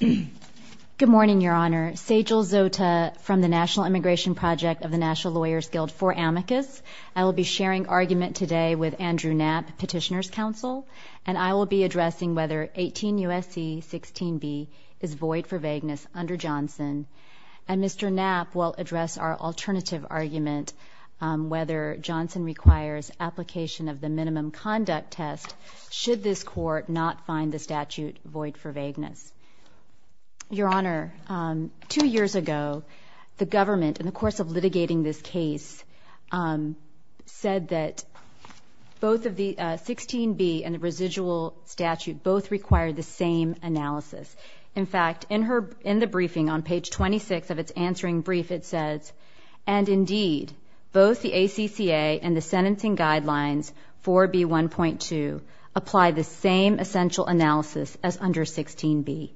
Good morning, Your Honor. Sejal Zota from the National Immigration Project of the National Lawyers Guild for Amicus. I will be sharing argument today with Andrew Knapp, Petitioner's Counsel, and I will be addressing whether 18 U.S.C. 16b is void for vagueness under Johnson. And Mr. Knapp will address our alternative argument, whether Johnson requires application of the minimum conduct test should this court not find the statute void for vagueness. Your Honor, two years ago, the government, in the course of litigating this case, said that both of the 16b and the residual statute both require the same analysis. In fact, in the briefing on page 26 of its answering brief, it says, and indeed, both the ACCA and the 4B1.2 apply the same essential analysis as under 16b.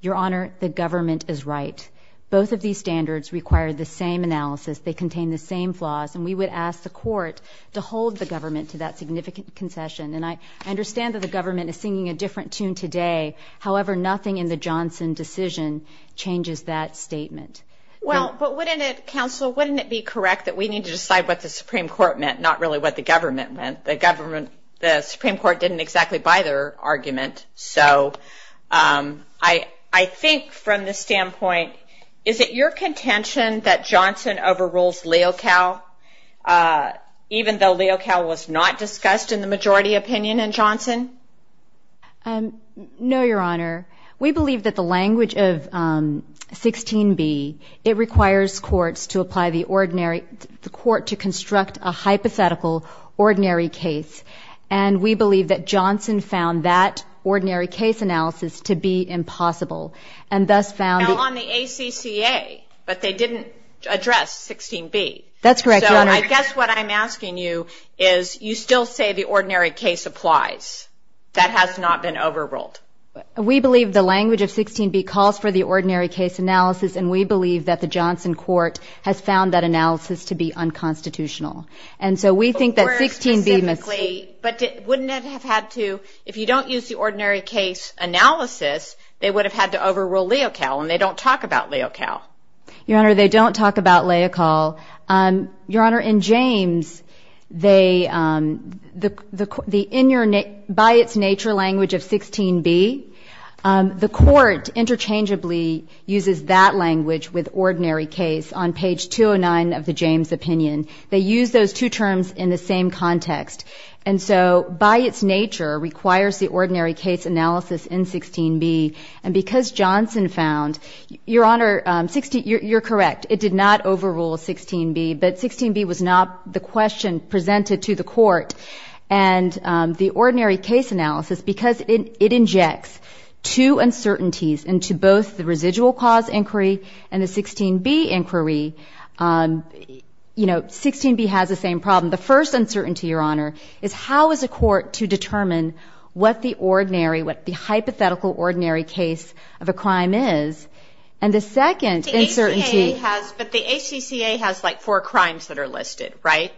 Your Honor, the government is right. Both of these standards require the same analysis. They contain the same flaws. And we would ask the court to hold the government to that significant concession. And I understand that the government is singing a different tune today. However, nothing in the Johnson decision changes that statement. Well, but wouldn't it, Counsel, wouldn't it be correct that we need to decide what the government, the government, the Supreme Court didn't exactly buy their argument? So I think from this standpoint, is it your contention that Johnson overrules Leocal, even though Leocal was not discussed in the majority opinion in Johnson? No, Your Honor. We believe that the language of 16b, it requires courts to apply the ordinary, the court to construct a hypothetical ordinary case. And we believe that Johnson found that ordinary case analysis to be impossible. And thus found... Now on the ACCA, but they didn't address 16b. That's correct, Your Honor. So I guess what I'm asking you is, you still say the ordinary case applies. That has not been overruled. We believe the language of 16b calls for the ordinary case analysis. And we believe that analysis to be unconstitutional. And so we think that 16b must... But wouldn't it have had to, if you don't use the ordinary case analysis, they would have had to overrule Leocal and they don't talk about Leocal. Your Honor, they don't talk about Leocal. Your Honor, in James, they, the in your, by its nature language of 16b, the court interchangeably uses that language with ordinary case on page 209 of the James opinion. They use those two terms in the same context. And so by its nature requires the ordinary case analysis in 16b. And because Johnson found, Your Honor, you're correct. It did not overrule 16b. But 16b was not the question presented to the court. And the ordinary case analysis, because it injects two uncertainties into both the residual cause inquiry and the 16b inquiry, you know, 16b has the same problem. The first uncertainty, Your Honor, is how is a court to determine what the ordinary, what the hypothetical ordinary case of a crime is? And the second uncertainty... The ACCA has, but the ACCA has like four crimes that are listed, right?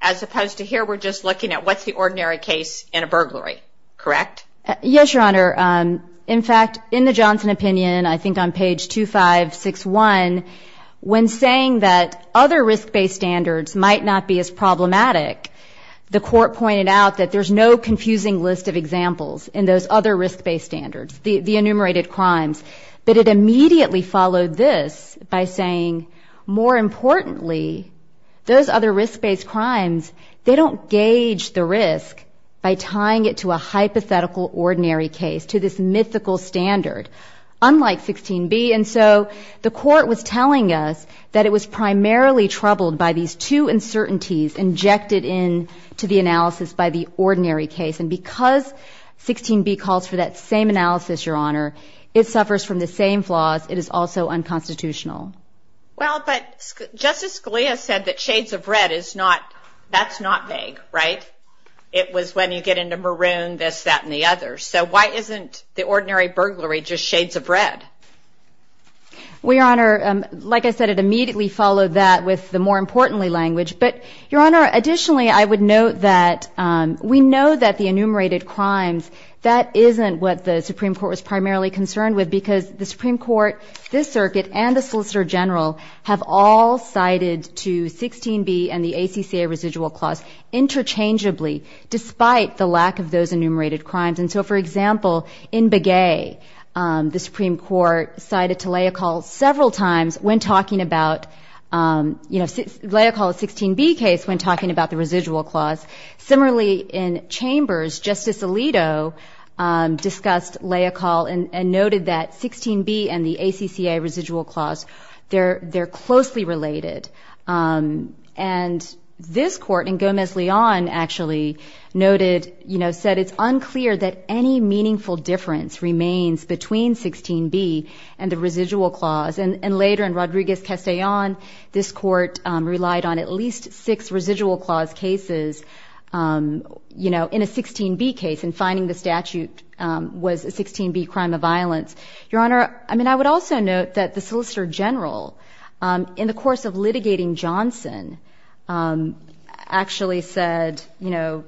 As opposed to here, we're just looking at what's the ordinary case in a burglary, correct? Yes, Your Honor. In fact, in the Johnson opinion, I think on page 2561, when saying that other risk-based standards might not be as problematic, the court pointed out that there's no confusing list of examples in those other risk-based standards, the enumerated crimes. But it immediately followed this by saying, more importantly, those other risk-based crimes, they don't gauge the risk by tying it to a hypothetical ordinary case, to this mythical standard, unlike 16b. And so the court was telling us that it was primarily troubled by these two uncertainties injected into the analysis by the ordinary case. And because 16b calls for that same analysis, Your Honor, it suffers from the same flaws. It is also unconstitutional. Well, but Justice Scalia said that shades of red is not... that's not vague, right? It was when you get into maroon, this, that, and the other. So why isn't the ordinary burglary just shades of red? Well, Your Honor, like I said, it immediately followed that with the more importantly language. But, Your Honor, additionally, I would note that we know that the enumerated crimes, that isn't what the Supreme Court was primarily concerned with, because the Supreme Court, this Circuit, and the Solicitor General have all cited to 16b and the ACCA residual clause interchangeably, despite the lack of those enumerated crimes. And so, for example, in Begay, the Supreme Court cited to Leocal several times when talking about, you know, Leocal's 16b case when talking about the residual clause. Similarly, in Chambers, Justice Alito discussed Leocal and noted that 16b and the ACCA residual clause, they're closely related. And this Court, and Gomez-Leon actually noted, you know, said it's unclear that any meaningful difference remains between 16b and the residual clause. And later, in Rodriguez-Castellon, this Court relied on at least six residual clause cases, you know, in a 16b case, and finding the statute was a 16b crime of violence. Your Honor, I mean, I would also note that the Solicitor General, in the course of litigating Johnson, actually said, you know,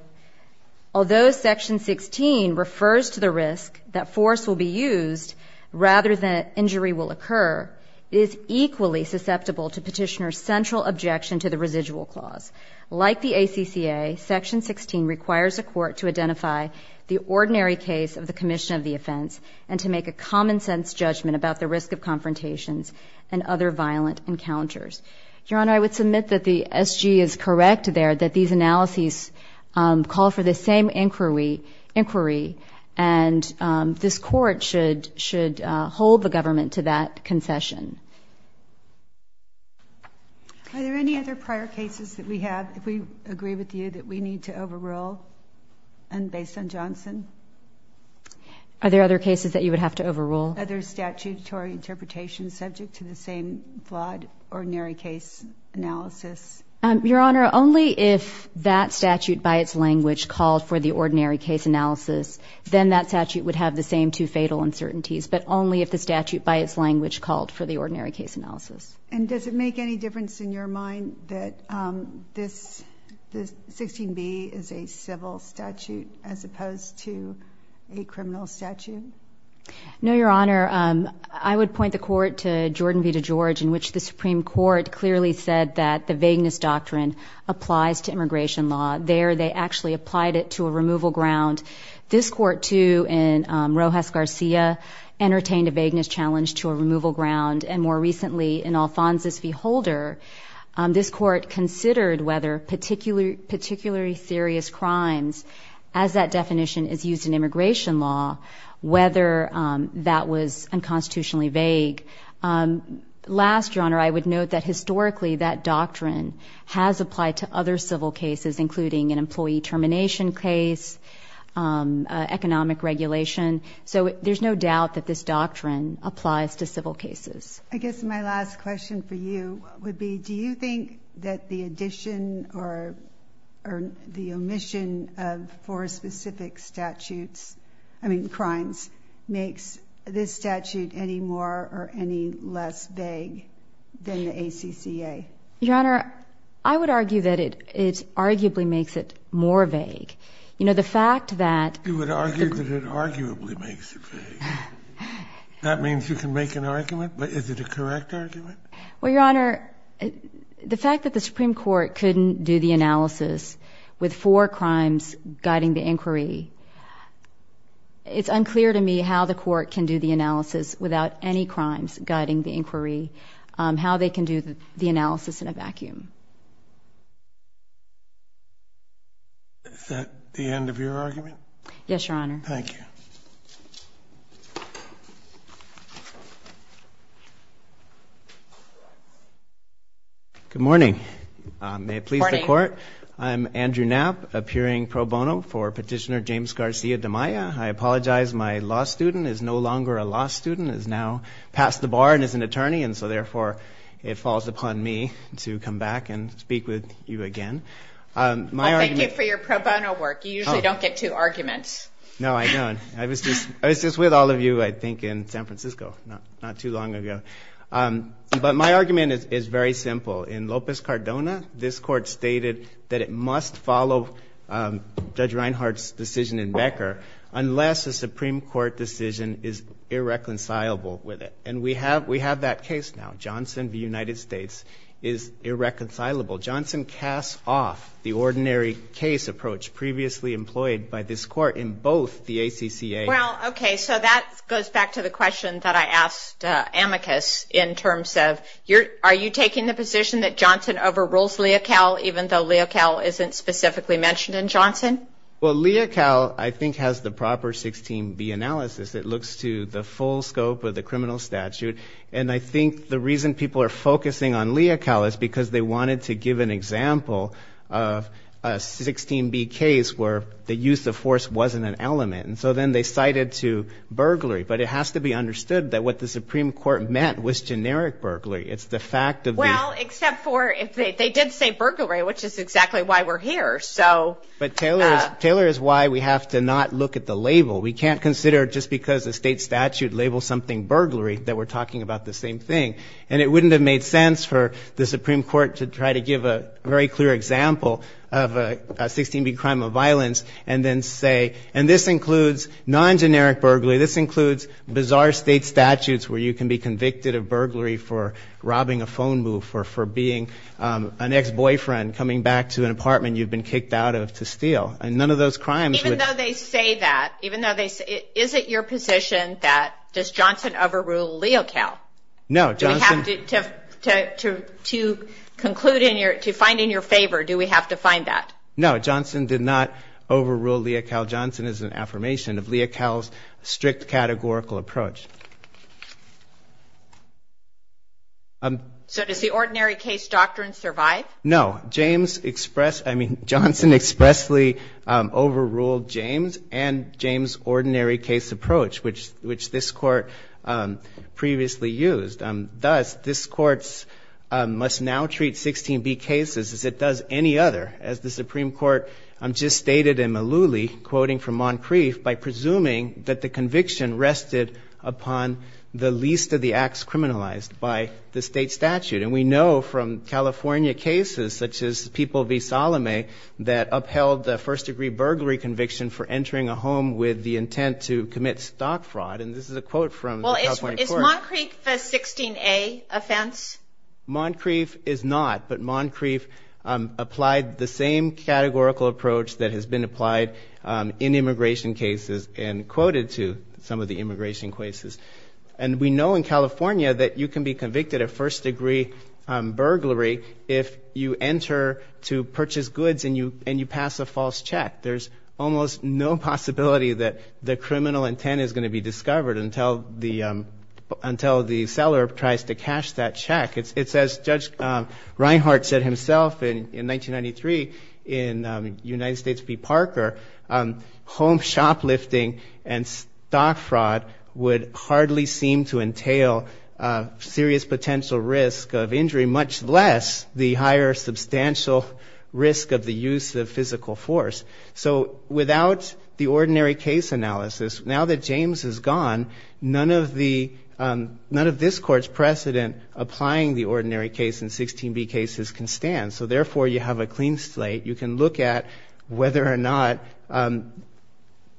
although Section 16 refers to the risk that force will be used rather than injury will occur, it is equally susceptible to Petitioner's central objection to the residual clause. Like the ACCA, Section 16 requires the Court to identify the ordinary case of the commission of the offense and to make a common-sense judgment about the risk of confrontations and other violent encounters. Your Honor, I would submit that the SG is correct there, that these analyses call for the same inquiry, and this Court should hold the government to that concession. Are there any other prior cases that we have, if we agree with you, that we need to overrule? And based on Johnson? Are there other cases that you would have to overrule? Are there statutory interpretations subject to the same flawed ordinary case analysis? Your Honor, only if that statute, by its language, called for the ordinary case analysis, then that statute would have the same two fatal uncertainties, but only if the statute, by its language, called for the ordinary case analysis. And does it make any difference in your mind that this 16B is a civil statute as opposed to a criminal statute? No, Your Honor. I would point the Court to Jordan v. DeGeorge, in which the Supreme Court clearly said that the vagueness doctrine applies to immigration law. There, they actually applied it to a removal ground. This Court, too, in Rojas-Garcia, entertained a vagueness challenge to a removal ground. And more recently, in Alphonsus v. Holder, this Court considered whether particularly serious crimes, as that definition is used in immigration law, whether that was unconstitutionally vague. Last, Your Honor, I would note that, historically, that doctrine has applied to other civil cases, including an employee termination case, economic regulation. So there's no doubt that this doctrine applies to civil cases. I guess my last question for you would be, do you think that the addition or the omission of four specific statutes, I mean, crimes, makes this statute any more or any less vague than the ACCA? Your Honor, I would argue that it arguably makes it more vague. You know, the fact that you would argue that it arguably makes it vague, that means you can make an argument, but is it a correct argument? Well, Your Honor, the fact that the Supreme Court couldn't do the analysis with four crimes guiding the inquiry, it's unclear to me how the Court can do the analysis without any crimes guiding the inquiry, how they can do the analysis in a vacuum. Is that the end of your argument? Yes, Your Honor. Thank you. Good morning. May it please the Court, I'm Andrew Knapp, appearing pro bono for Petitioner James Garcia de Maya. I apologize, my law student is no longer a law student, is now a lawyer. It falls upon me to come back and speak with you again. Well, thank you for your pro bono work. You usually don't get two arguments. No, I don't. I was just with all of you, I think, in San Francisco not too long ago. But my argument is very simple. In Lopez Cardona, this Court stated that it must follow Judge Reinhart's decision in Becker unless a Supreme Court decision is irreconcilable with it. And we have that case now. Johnson v. United States is irreconcilable. Johnson casts off the ordinary case approach previously employed by this Court in both the ACCA and the Supreme Court. Well, okay, so that goes back to the question that I asked Amicus in terms of, are you taking the position that Johnson overrules Leocal even though Leocal isn't specifically mentioned in Johnson? Well, Leocal, I think, has the proper 16b analysis that looks to the full scope of the criminal statute. And I think the reason people are focusing on Leocal is because they wanted to give an example of a 16b case where the use of force wasn't an element. And so then they cited to burglary. But it has to be understood that what the Supreme Court meant was generic burglary. It's the fact of the... Well, except for if they did say burglary, which is exactly why we're here, so... But Taylor is why we have to not look at the label. We can't consider just because a state statute labels something burglary that we're talking about the same thing. And it wouldn't have made sense for the Supreme Court to try to give a very clear example of a 16b crime of violence and then say, and this includes non-generic burglary, this includes bizarre state statutes where you can be convicted of burglary for robbing a phone booth or for being an ex-boyfriend coming back to an apartment you've been kicked out of to steal. And none of those crimes would... No, Johnson... To conclude in your... To find in your favor, do we have to find that? No, Johnson did not overrule Leocal. Johnson is an affirmation of Leocal's strict categorical approach. So does the ordinary case doctrine survive? No. James expressed... I mean, Johnson expressly overruled James and James' ordinary case approach, which this Court previously used. Thus, this Court must now treat 16b cases as it does any other, as the Supreme Court just stated in Malooly, quoting from Moncrief, by presuming that the conviction rested upon the least of the acts criminalized by the state statute. And we know from California cases such as People v. Salome that upheld the first-degree burglary conviction for entering a home with the intent to commit stock fraud. And this is a quote from the California court. Well, is Moncrief a 16a offense? Moncrief is not, but Moncrief applied the same categorical approach that has been applied in immigration cases and quoted to some of the immigration cases. And we know in California that you can be convicted of first-degree burglary if you enter to purchase goods and you pass a false check. There's almost no possibility that the criminal intent is going to be discovered until the seller tries to cash that check. It's as Judge Reinhart said himself in 1993 in United States v. Parker, home shoplifting and stock fraud would hardly seem to entail serious potential risk of injury, much less the higher substantial risk of the use of physical force. So without the ordinary case analysis, now that James is gone, none of this Court's precedent applying the ordinary case in 16b cases can stand. So therefore, you have a clean slate. You can look at whether or not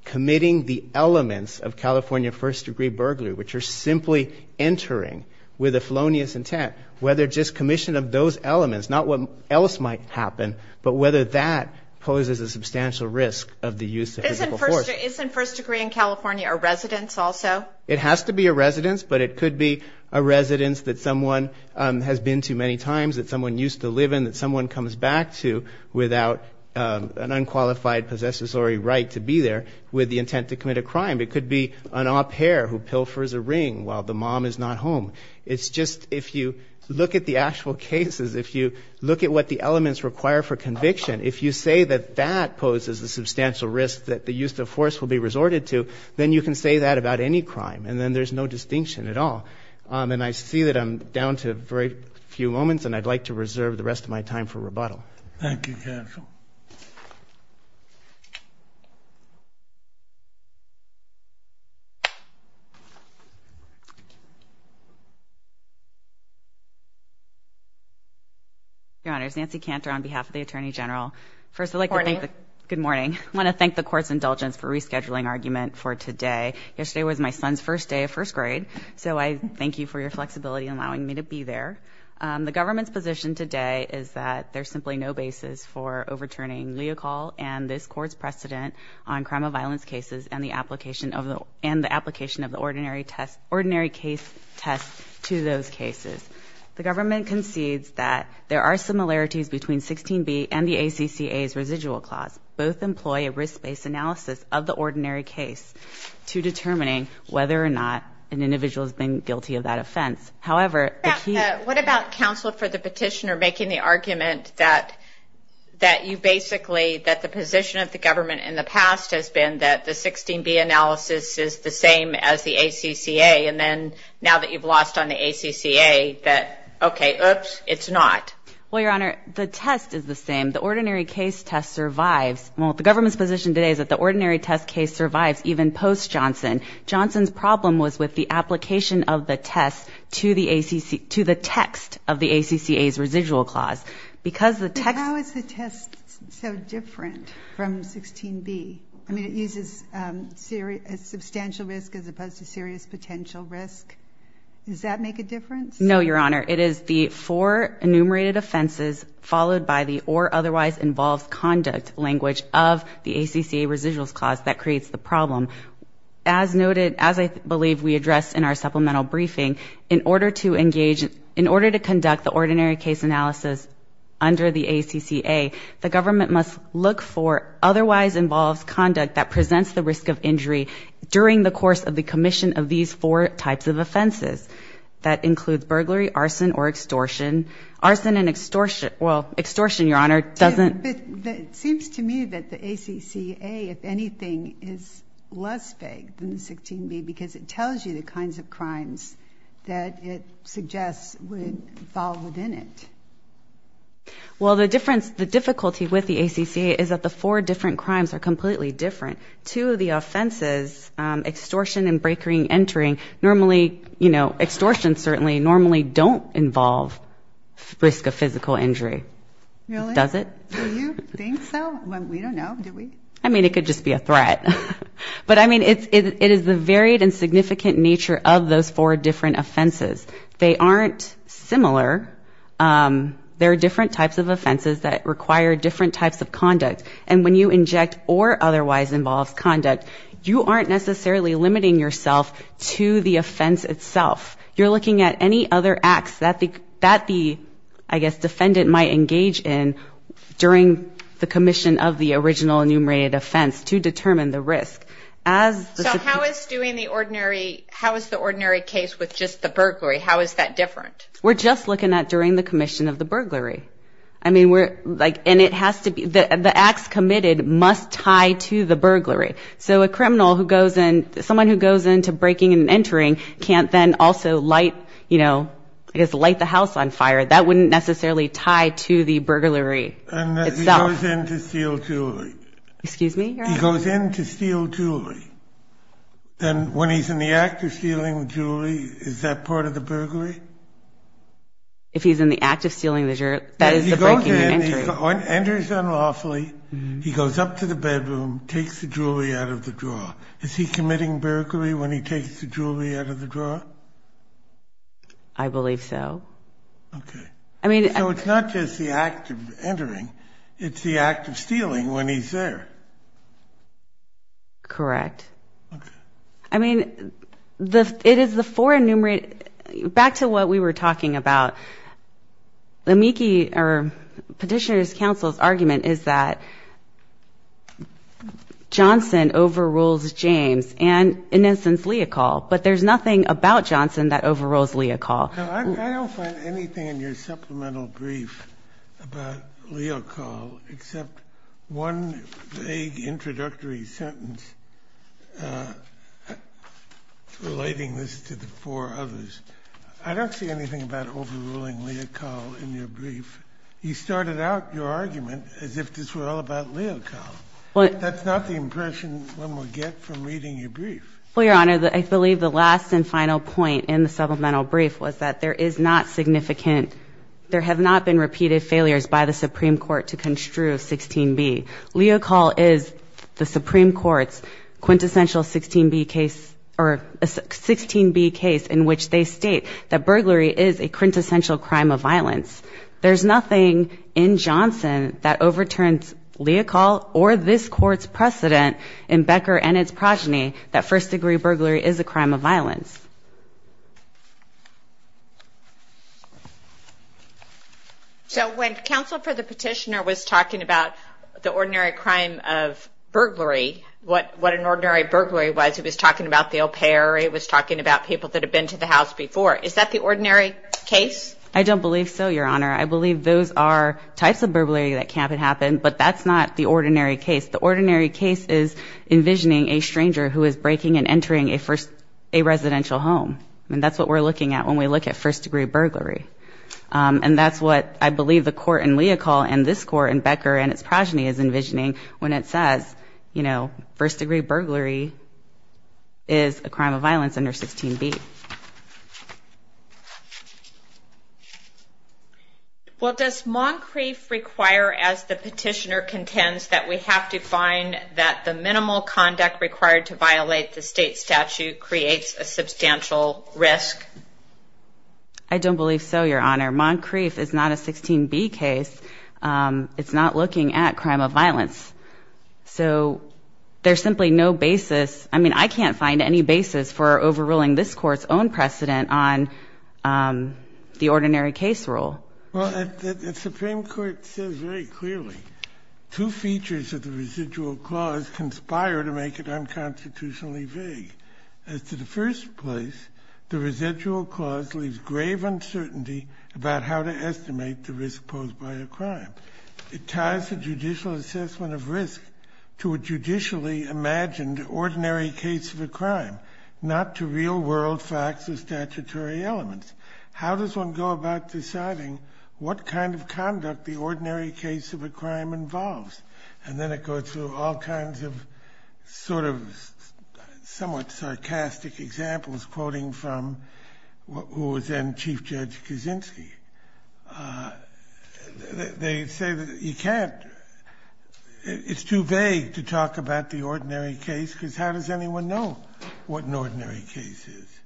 committing the elements of California first-degree burglary, which are simply entering with a felonious intent, whether just commission of those elements, not what else might happen, but whether that poses a substantial risk of the use of physical force. Isn't first-degree in California a residence also? It has to be a residence, but it could be a residence that someone has been to many times, that someone used to live in, that someone comes back to without an unqualified possessory right to be there with the intent to commit a crime. It could be an au pair who pilfers a ring while the mom is not home. It's just if you look at the actual cases, if you look at what the elements require for conviction, if you say that that poses a substantial risk that the use of force will be resorted to, then you can say that about any crime, and then there's no distinction at all. And I see that I'm down to very few moments, and I'd like to reserve the rest of my time Thank you, counsel. Your Honor, it's Nancy Cantor on behalf of the Attorney General. Good morning. Good morning. I want to thank the Court's indulgence for rescheduling argument for today. Yesterday was my son's first day of first grade, so I thank you for your flexibility allowing me to be there. The government's position today is that there's simply no basis for overturning Leocal and this Court's precedent on crime of violence cases and the application of the ordinary case test to those cases. The government concedes that there are similarities between 16b and the ACCA's residual clause. Both employ a risk-based analysis of the ordinary case to determining whether or not an individual has been guilty of that offense. However, the key... What about counsel for the petitioner making the argument that you basically, that the position of the government in the past has been that the 16b analysis is the same as the ACCA, and then now that you've lost on the ACCA, that, okay, oops, it's not. Well, Your Honor, the test is the same. The ordinary case test survives, well, the government's position today is that the ordinary test case survives even post-Johnson. Johnson's problem was with the application of the test to the text of the ACCA's residual clause. Because the text... How is the test so different from 16b? I mean, it uses substantial risk as opposed to serious potential risk. Does that make a difference? No, Your Honor. It is the four enumerated offenses followed by the or otherwise involved conduct language of the ACCA residuals clause that creates the problem. As noted, as I believe we addressed in our supplemental briefing, in order to engage... In order to conduct the ordinary case analysis under the ACCA, the government must look for otherwise involves conduct that presents the risk of injury during the course of the commission of these four types of offenses. That includes burglary, arson, or extortion. Arson and extortion... Well, extortion, Your Honor, doesn't... But it seems to me that the ACCA, if anything, is less vague than 16b because it tells you the kinds of crimes that it suggests would fall within it. Well, the difference... The difficulty with the ACCA is that the four different crimes are completely different. Two of the offenses, extortion and break-in entering, normally, you know, extortion certainly normally don't involve risk of physical injury. Really? Does it? Do you think so? We don't know. Do we? I mean, it could just be a threat. But, I mean, it is the varied and significant nature of those four different offenses. They aren't similar. There are different types of offenses that require different types of conduct. And when you inject or otherwise involves conduct, you aren't necessarily limiting yourself to the offense itself. You're looking at any other acts that the, I guess, defendant might engage in during the commission of the original enumerated offense to determine the risk. As the... How is that different? We're just looking at during the commission of the burglary. I mean, we're like, and it has to be, the acts committed must tie to the burglary. So a criminal who goes in, someone who goes into breaking and entering can't then also light, you know, I guess, light the house on fire. That wouldn't necessarily tie to the burglary itself. And he goes in to steal jewelry. Excuse me? He goes in to steal jewelry. Then when he's in the act of stealing the jewelry, is that part of the burglary? If he's in the act of stealing the jewelry, that is the breaking and entering. He goes in, enters unlawfully, he goes up to the bedroom, takes the jewelry out of the drawer. Is he committing burglary when he takes the jewelry out of the drawer? I believe so. Okay. I mean... So it's not just the act of entering, it's the act of stealing when he's there. Correct. Okay. I mean, it is the four enumerated... Back to what we were talking about. The Meeke or Petitioner's Council's argument is that Johnson overrules James and, in instance, Leocall. But there's nothing about Johnson that overrules Leocall. No, I don't find anything in your supplemental brief about Leocall except one vague introductory sentence relating this to the four others. I don't see anything about overruling Leocall in your brief. You started out your argument as if this were all about Leocall. That's not the impression one would get from reading your brief. Well, Your Honor, I believe the last and final point in the supplemental brief was that there is not significant... There have not been repeated failures by the Supreme Court to construe 16B. Leocall is the Supreme Court's quintessential 16B case in which they state that burglary is a quintessential crime of violence. There's nothing in Johnson that overturns Leocall or this Court's precedent in Becker and its progeny that first-degree burglary is a crime of violence. So when counsel for the Petitioner was talking about the ordinary crime of burglary, what an ordinary burglary was, he was talking about the au pair, he was talking about people that had been to the house before. Is that the ordinary case? I don't believe so, Your Honor. I believe those are types of burglary that can happen, but that's not the ordinary case. The ordinary case is envisioning a stranger who is breaking and entering a residential home, and that's what we're looking at when we look at first-degree burglary. And that's what I believe the Court in Leocall and this Court in Becker and its progeny is envisioning when it says, you know, first-degree burglary is a crime of violence under 16B. Well, does Moncrief require, as the Petitioner contends, that we have to find that the minimal conduct required to violate the state statute creates a substantial risk? I don't believe so, Your Honor. Moncrief is not a 16B case. It's not looking at crime of violence. So there's simply no basis. I mean, I can't find any basis for overruling this Court's own precedent on the ordinary case rule. Well, the Supreme Court says very clearly two features of the residual clause conspire to make it unconstitutionally vague. As to the first place, the residual clause leaves grave uncertainty about how to estimate the risk posed by a crime. It ties the judicial assessment of risk to a judicially imagined ordinary case of a crime, not to real-world facts or statutory elements. How does one go about deciding what kind of conduct the ordinary case of a crime involves? And then it goes through all kinds of sort of somewhat sarcastic examples, quoting from who was then Chief Judge Kaczynski. They say that you can't – it's too vague to talk about the ordinary case because how does anyone know what an ordinary case is?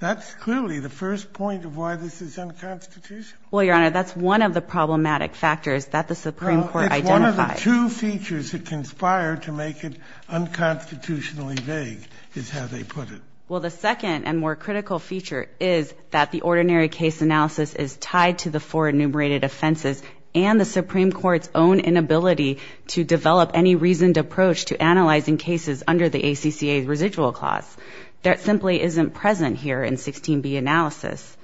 That's clearly the first point of why this is unconstitutional. Well, Your Honor, that's one of the problematic factors that the Supreme Court identified. It's one of the two features that conspire to make it unconstitutionally vague, is how they put it. Well, the second and more critical feature is that the ordinary case analysis is tied to the four enumerated offenses and the Supreme Court's own inability to develop any reasoned approach to analyzing cases under the ACCA's residual clause. That simply isn't present here in 16b analysis.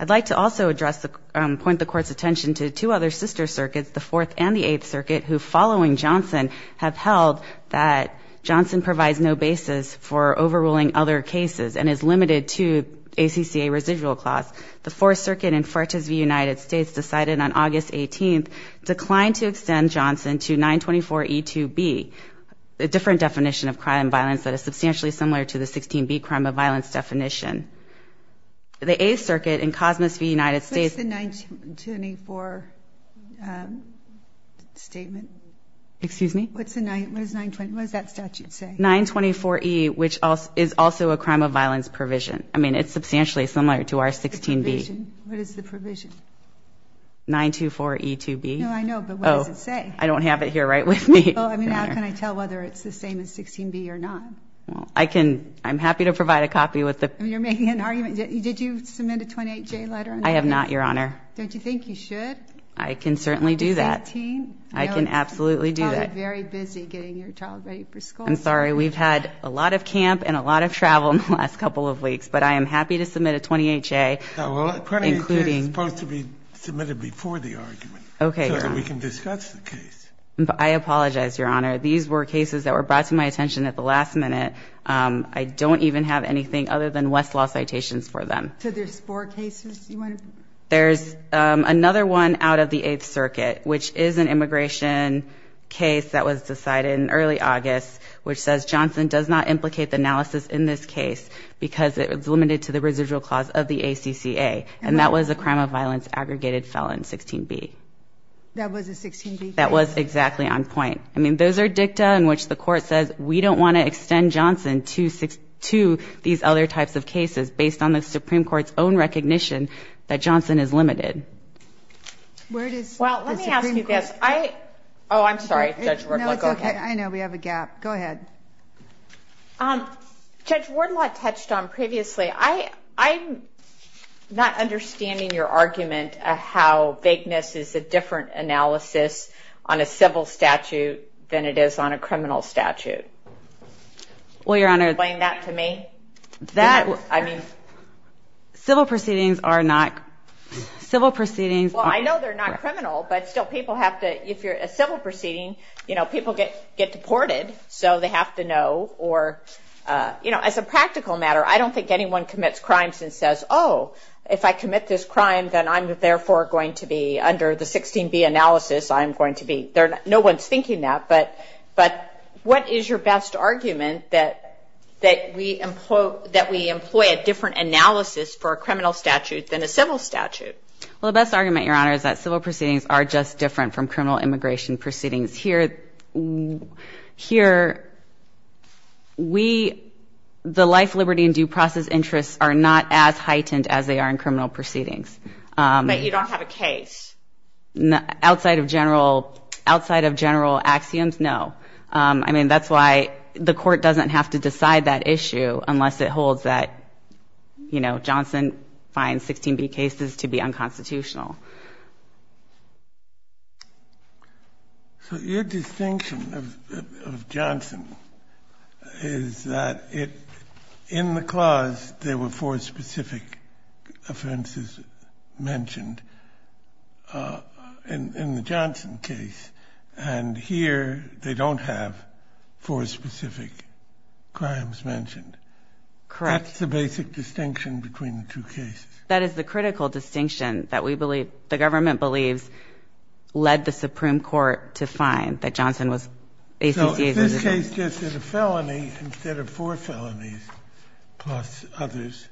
I'd like to also address the – point the Court's attention to two other sister circuits, the Fourth and the Eighth Circuit, who, following Johnson, have held that Johnson provides no other cases and is limited to ACCA residual clause. The Fourth Circuit in Fertiz v. United States decided on August 18th, declined to extend Johnson to 924E2b, a different definition of crime and violence that is substantially similar to the 16b crime of violence definition. The Eighth Circuit in Cosmis v. United States – What's the 924 statement? Excuse me? What's the – what does 924 – what does that statute say? 924E, which is also a crime of violence provision. I mean, it's substantially similar to our 16b. What is the provision? 924E2b. No, I know, but what does it say? Oh, I don't have it here right with me. Well, I mean, how can I tell whether it's the same as 16b or not? Well, I can – I'm happy to provide a copy with the – You're making an argument. Did you submit a 28J letter? I have not, Your Honor. Don't you think you should? I can certainly do that. I'm sorry. Well, I'm not. I'm not. I'm not. I'm not. I'm not. I'm sorry. We've had a lot of camp and a lot of travel in the last couple of weeks, but I am happy to submit a 28J, including – Well, a 28J is supposed to be submitted before the argument so that we can discuss the case. I apologize, Your Honor. These were cases that were brought to my attention at the last minute. I don't even have anything other than Westlaw citations for them. So there's four cases you want to – There's another one out of the Eighth Circuit, which is an immigration case that was decided in early August, which says Johnson does not implicate the analysis in this case because it's limited to the residual clause of the ACCA. And that was a crime of violence aggregated felon, 16B. That was a 16B case? That was exactly on point. I mean, those are dicta in which the Court says we don't want to extend Johnson to these other types of cases based on the Supreme Court's own recognition that Johnson is limited. Where does the Supreme Court – Well, let me ask you this. I – Oh, I'm sorry. Judge Wardlock, go ahead. No, it's okay. I know. We have a gap. Go ahead. Judge Wardlock touched on previously, I'm not understanding your argument of how vagueness is a different analysis on a civil statute than it is on a criminal statute. Well, Your Honor – Explain that to me. That – I mean, civil proceedings are not – civil proceedings – Well, I know they're not criminal, but still, people have to – if you're a civil proceeding, you know, people get deported, so they have to know, or – you know, as a practical matter, I don't think anyone commits crimes and says, oh, if I commit this crime, then I'm therefore going to be – under the 16B analysis, I'm going to be – no one's thinking that, but what is your best argument that we employ a different analysis for a criminal statute than a civil statute? Well, the best argument, Your Honor, is that civil proceedings are just different from Here, we – the life, liberty, and due process interests are not as heightened as they are in criminal proceedings. But you don't have a case. Outside of general – outside of general axioms, no. I mean, that's why the court doesn't have to decide that issue unless it holds that, you know, Johnson finds 16B cases to be unconstitutional. So your distinction of Johnson is that it – in the clause, there were four specific offenses mentioned in the Johnson case, and here, they don't have four specific crimes mentioned. Correct. So that's the basic distinction between the two cases. That is the critical distinction that we believe – the government believes led the Supreme Court to find that Johnson was – ACCA's residual. So if this case gets it a felony instead of four felonies plus others,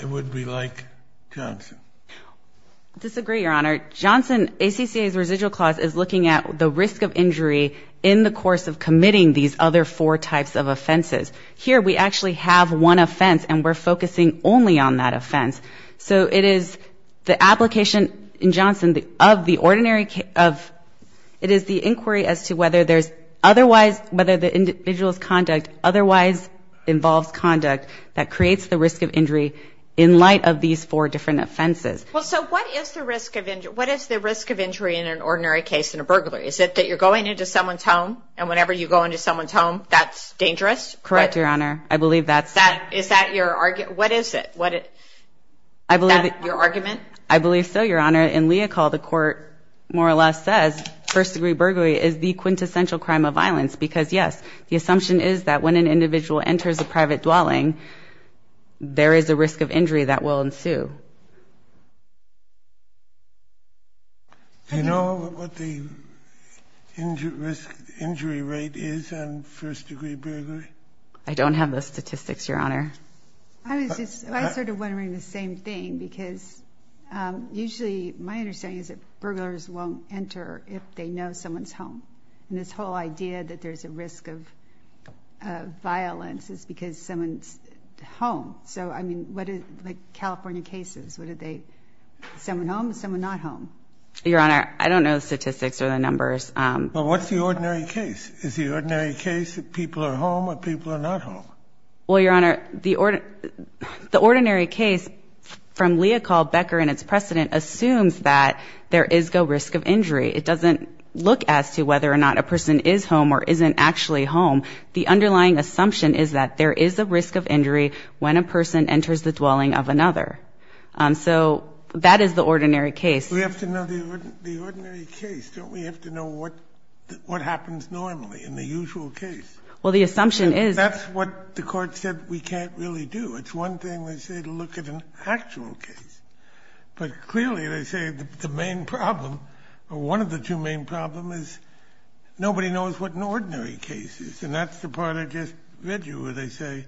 it would be like Johnson. I disagree, Your Honor. Johnson – ACCA's residual clause is looking at the risk of injury in the course of committing these other four types of offenses. Here, we actually have one offense, and we're focusing only on that offense. So it is the application in Johnson of the ordinary – of – it is the inquiry as to whether there's otherwise – whether the individual's conduct otherwise involves conduct that creates the risk of injury in light of these four different offenses. Well, so what is the risk of injury in an ordinary case in a burglary? Is it that you're going into someone's home, and whenever you go into someone's home, that's dangerous? Correct, Your Honor. I believe that's – Is that your – what is it? I believe – Is that your argument? I believe so, Your Honor. In Leocal, the court more or less says first-degree burglary is the quintessential crime of violence because yes, the assumption is that when an individual enters a private dwelling, there is a risk of injury that will ensue. Do you know what the injury rate is on first-degree burglary? I don't have the statistics, Your Honor. I was just – I was sort of wondering the same thing because usually my understanding is that burglars won't enter if they know someone's home. And this whole idea that there's a risk of violence is because someone's home. So, I mean, what is – like California cases, what are they – someone home, someone not home? Your Honor, I don't know the statistics or the numbers. Well, what's the ordinary case? Is the ordinary case that people are home or people are not home? Well, Your Honor, the ordinary case from Leocal, Becker, and its precedent assumes that there is a risk of injury. It doesn't look as to whether or not a person is home or isn't actually home. The underlying assumption is that there is a risk of injury when a person enters the dwelling of another. So that is the ordinary case. We have to know the ordinary case, don't we have to know what happens normally in the usual case? Well, the assumption is – That's what the Court said we can't really do. It's one thing, they say, to look at an actual case, but clearly they say the main problem is nobody knows what an ordinary case is, and that's the part I just read you where they say,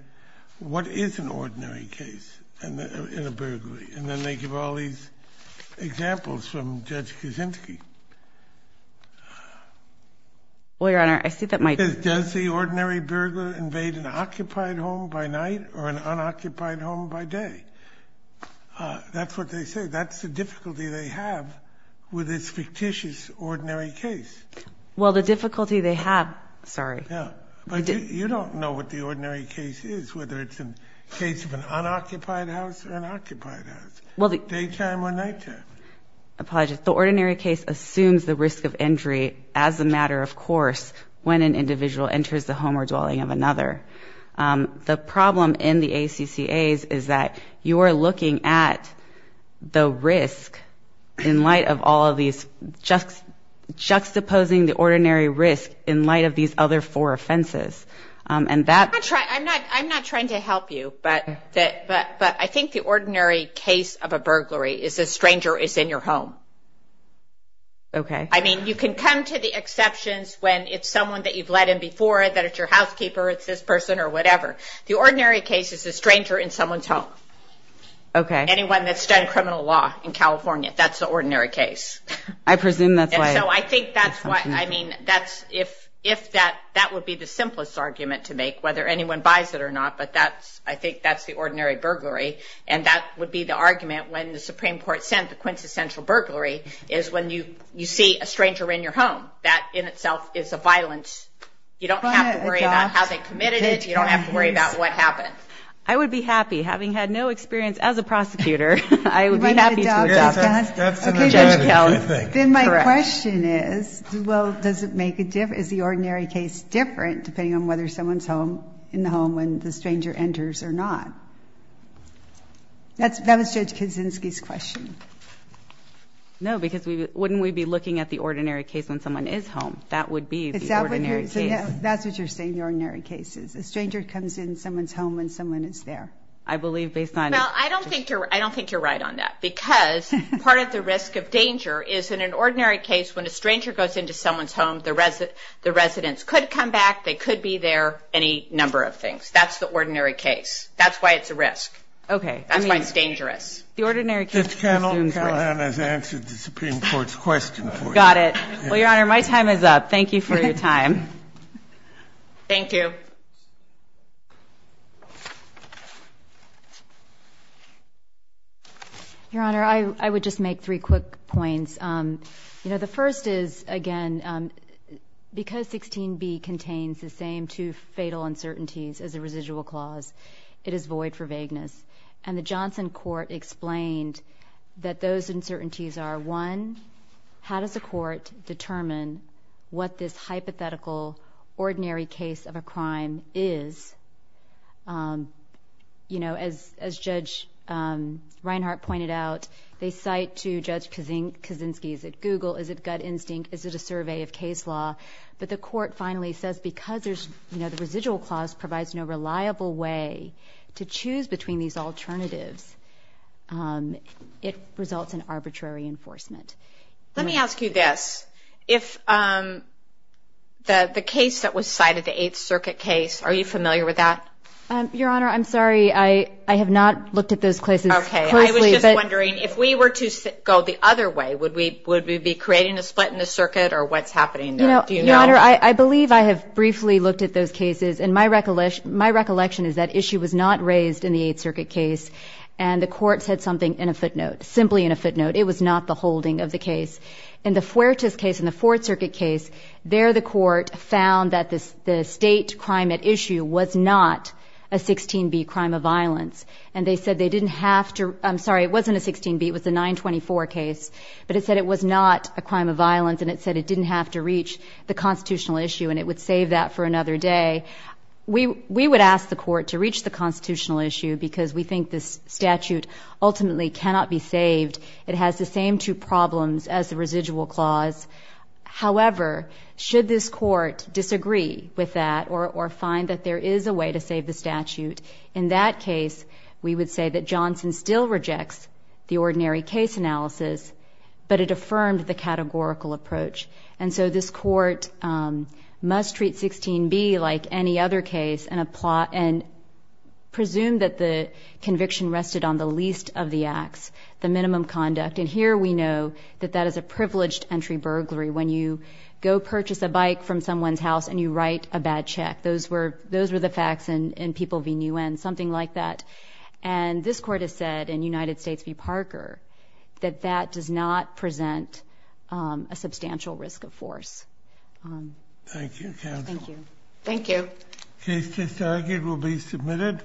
what is an ordinary case in a burglary, and then they give all these examples from Judge Kuczynski. Well, Your Honor, I see that my – Does the ordinary burglar invade an occupied home by night or an unoccupied home by day? That's what they say. That's the difficulty they have with this fictitious ordinary case. Well, the difficulty they have – Sorry. You don't know what the ordinary case is, whether it's a case of an unoccupied house or an unoccupied house, daytime or nighttime. Apologize. The ordinary case assumes the risk of injury as a matter of course when an individual enters the home or dwelling of another. The problem in the ACCA's is that you are looking at the risk in light of all of these – juxtaposing the ordinary risk in light of these other four offenses, and that – I'm not trying to help you, but I think the ordinary case of a burglary is a stranger is in your home. Okay. I mean, you can come to the exceptions when it's someone that you've let in before, that it's your housekeeper, it's this person or whatever. The ordinary case is a stranger in someone's home. Okay. Anyone that's done criminal law in California, that's the ordinary case. I presume that's why. And so I think that's why – I mean, that's – if that – that would be the simplest argument to make, whether anyone buys it or not, but that's – I think that's the ordinary burglary, and that would be the argument when the Supreme Court sent the quintessential burglary is when you see a stranger in your home. That in itself is a violence. You don't have to worry about how they committed it. You don't have to worry about what happened. I would be happy, having had no experience as a prosecutor, I would be happy to adopt Judge Keltz. Then my question is, well, does it make a – is the ordinary case different depending on whether someone's home – in the home when the stranger enters or not? That was Judge Kuczynski's question. No, because we – wouldn't we be looking at the ordinary case when someone is home? That would be the ordinary case. Is that what you're – so that's what you're saying, the ordinary case is a stranger comes in someone's home when someone is there? I believe based on – Well, I don't think you're – I don't think you're right on that, because part of the risk of danger is in an ordinary case when a stranger goes into someone's home, the residents could come back, they could be there, any number of things. That's the ordinary case. That's why it's a risk. That's why it's dangerous. The ordinary case – Judge Kendall, Ms. Wilhelm has answered the Supreme Court's question for you. Got it. Well, Your Honor, my time is up. Thank you for your time. Thank you. Your Honor, I would just make three quick points. You know, the first is, again, because 16b contains the same two fatal uncertainties as a residual clause, it is void for vagueness. And the Johnson court explained that those uncertainties are, one, how does a court determine what this hypothetical, ordinary case of a crime is? You know, as Judge Reinhart pointed out, they cite to Judge Kaczynski, is it Google, is it gut instinct, is it a survey of case law? But the court finally says, because there's – you know, the residual clause provides no reliable way to choose between these alternatives, it results in arbitrary enforcement. Let me ask you this. If the case that was cited, the Eighth Circuit case, are you familiar with that? Your Honor, I'm sorry. I have not looked at those cases closely. Okay. I was just wondering, if we were to go the other way, would we be creating a split in the circuit, or what's happening there? Do you know? Your Honor, I believe I have briefly looked at those cases, and my recollection is that issue was not raised in the Eighth Circuit case, and the courts had something in a footnote, simply in a footnote. It was not the holding of the case. In the Fuertes case, in the Fourth Circuit case, there the court found that the state crime at issue was not a 16B crime of violence, and they said they didn't have to – I'm sorry, it wasn't a 16B, it was a 924 case, but it said it was not a crime of violence, and it said it didn't have to reach the constitutional issue, and it would save that for another day. We would ask the court to reach the constitutional issue, because we think this statute ultimately cannot be saved. It has the same two problems as the residual clause. However, should this court disagree with that, or find that there is a way to save the statute, in that case, we would say that Johnson still rejects the ordinary case analysis, but it affirmed the categorical approach. And so this court must treat 16B like any other case, and presume that the conviction rested on the least of the acts, the minimum conduct. And here we know that that is a privileged entry burglary, when you go purchase a bike from someone's house and you write a bad check. Those were the facts in People v. Nguyen, something like that. And this court has said, in United States v. Parker, that that does not present a substantial risk of force. Thank you, counsel. Thank you. Thank you. Case disargued will be submitted.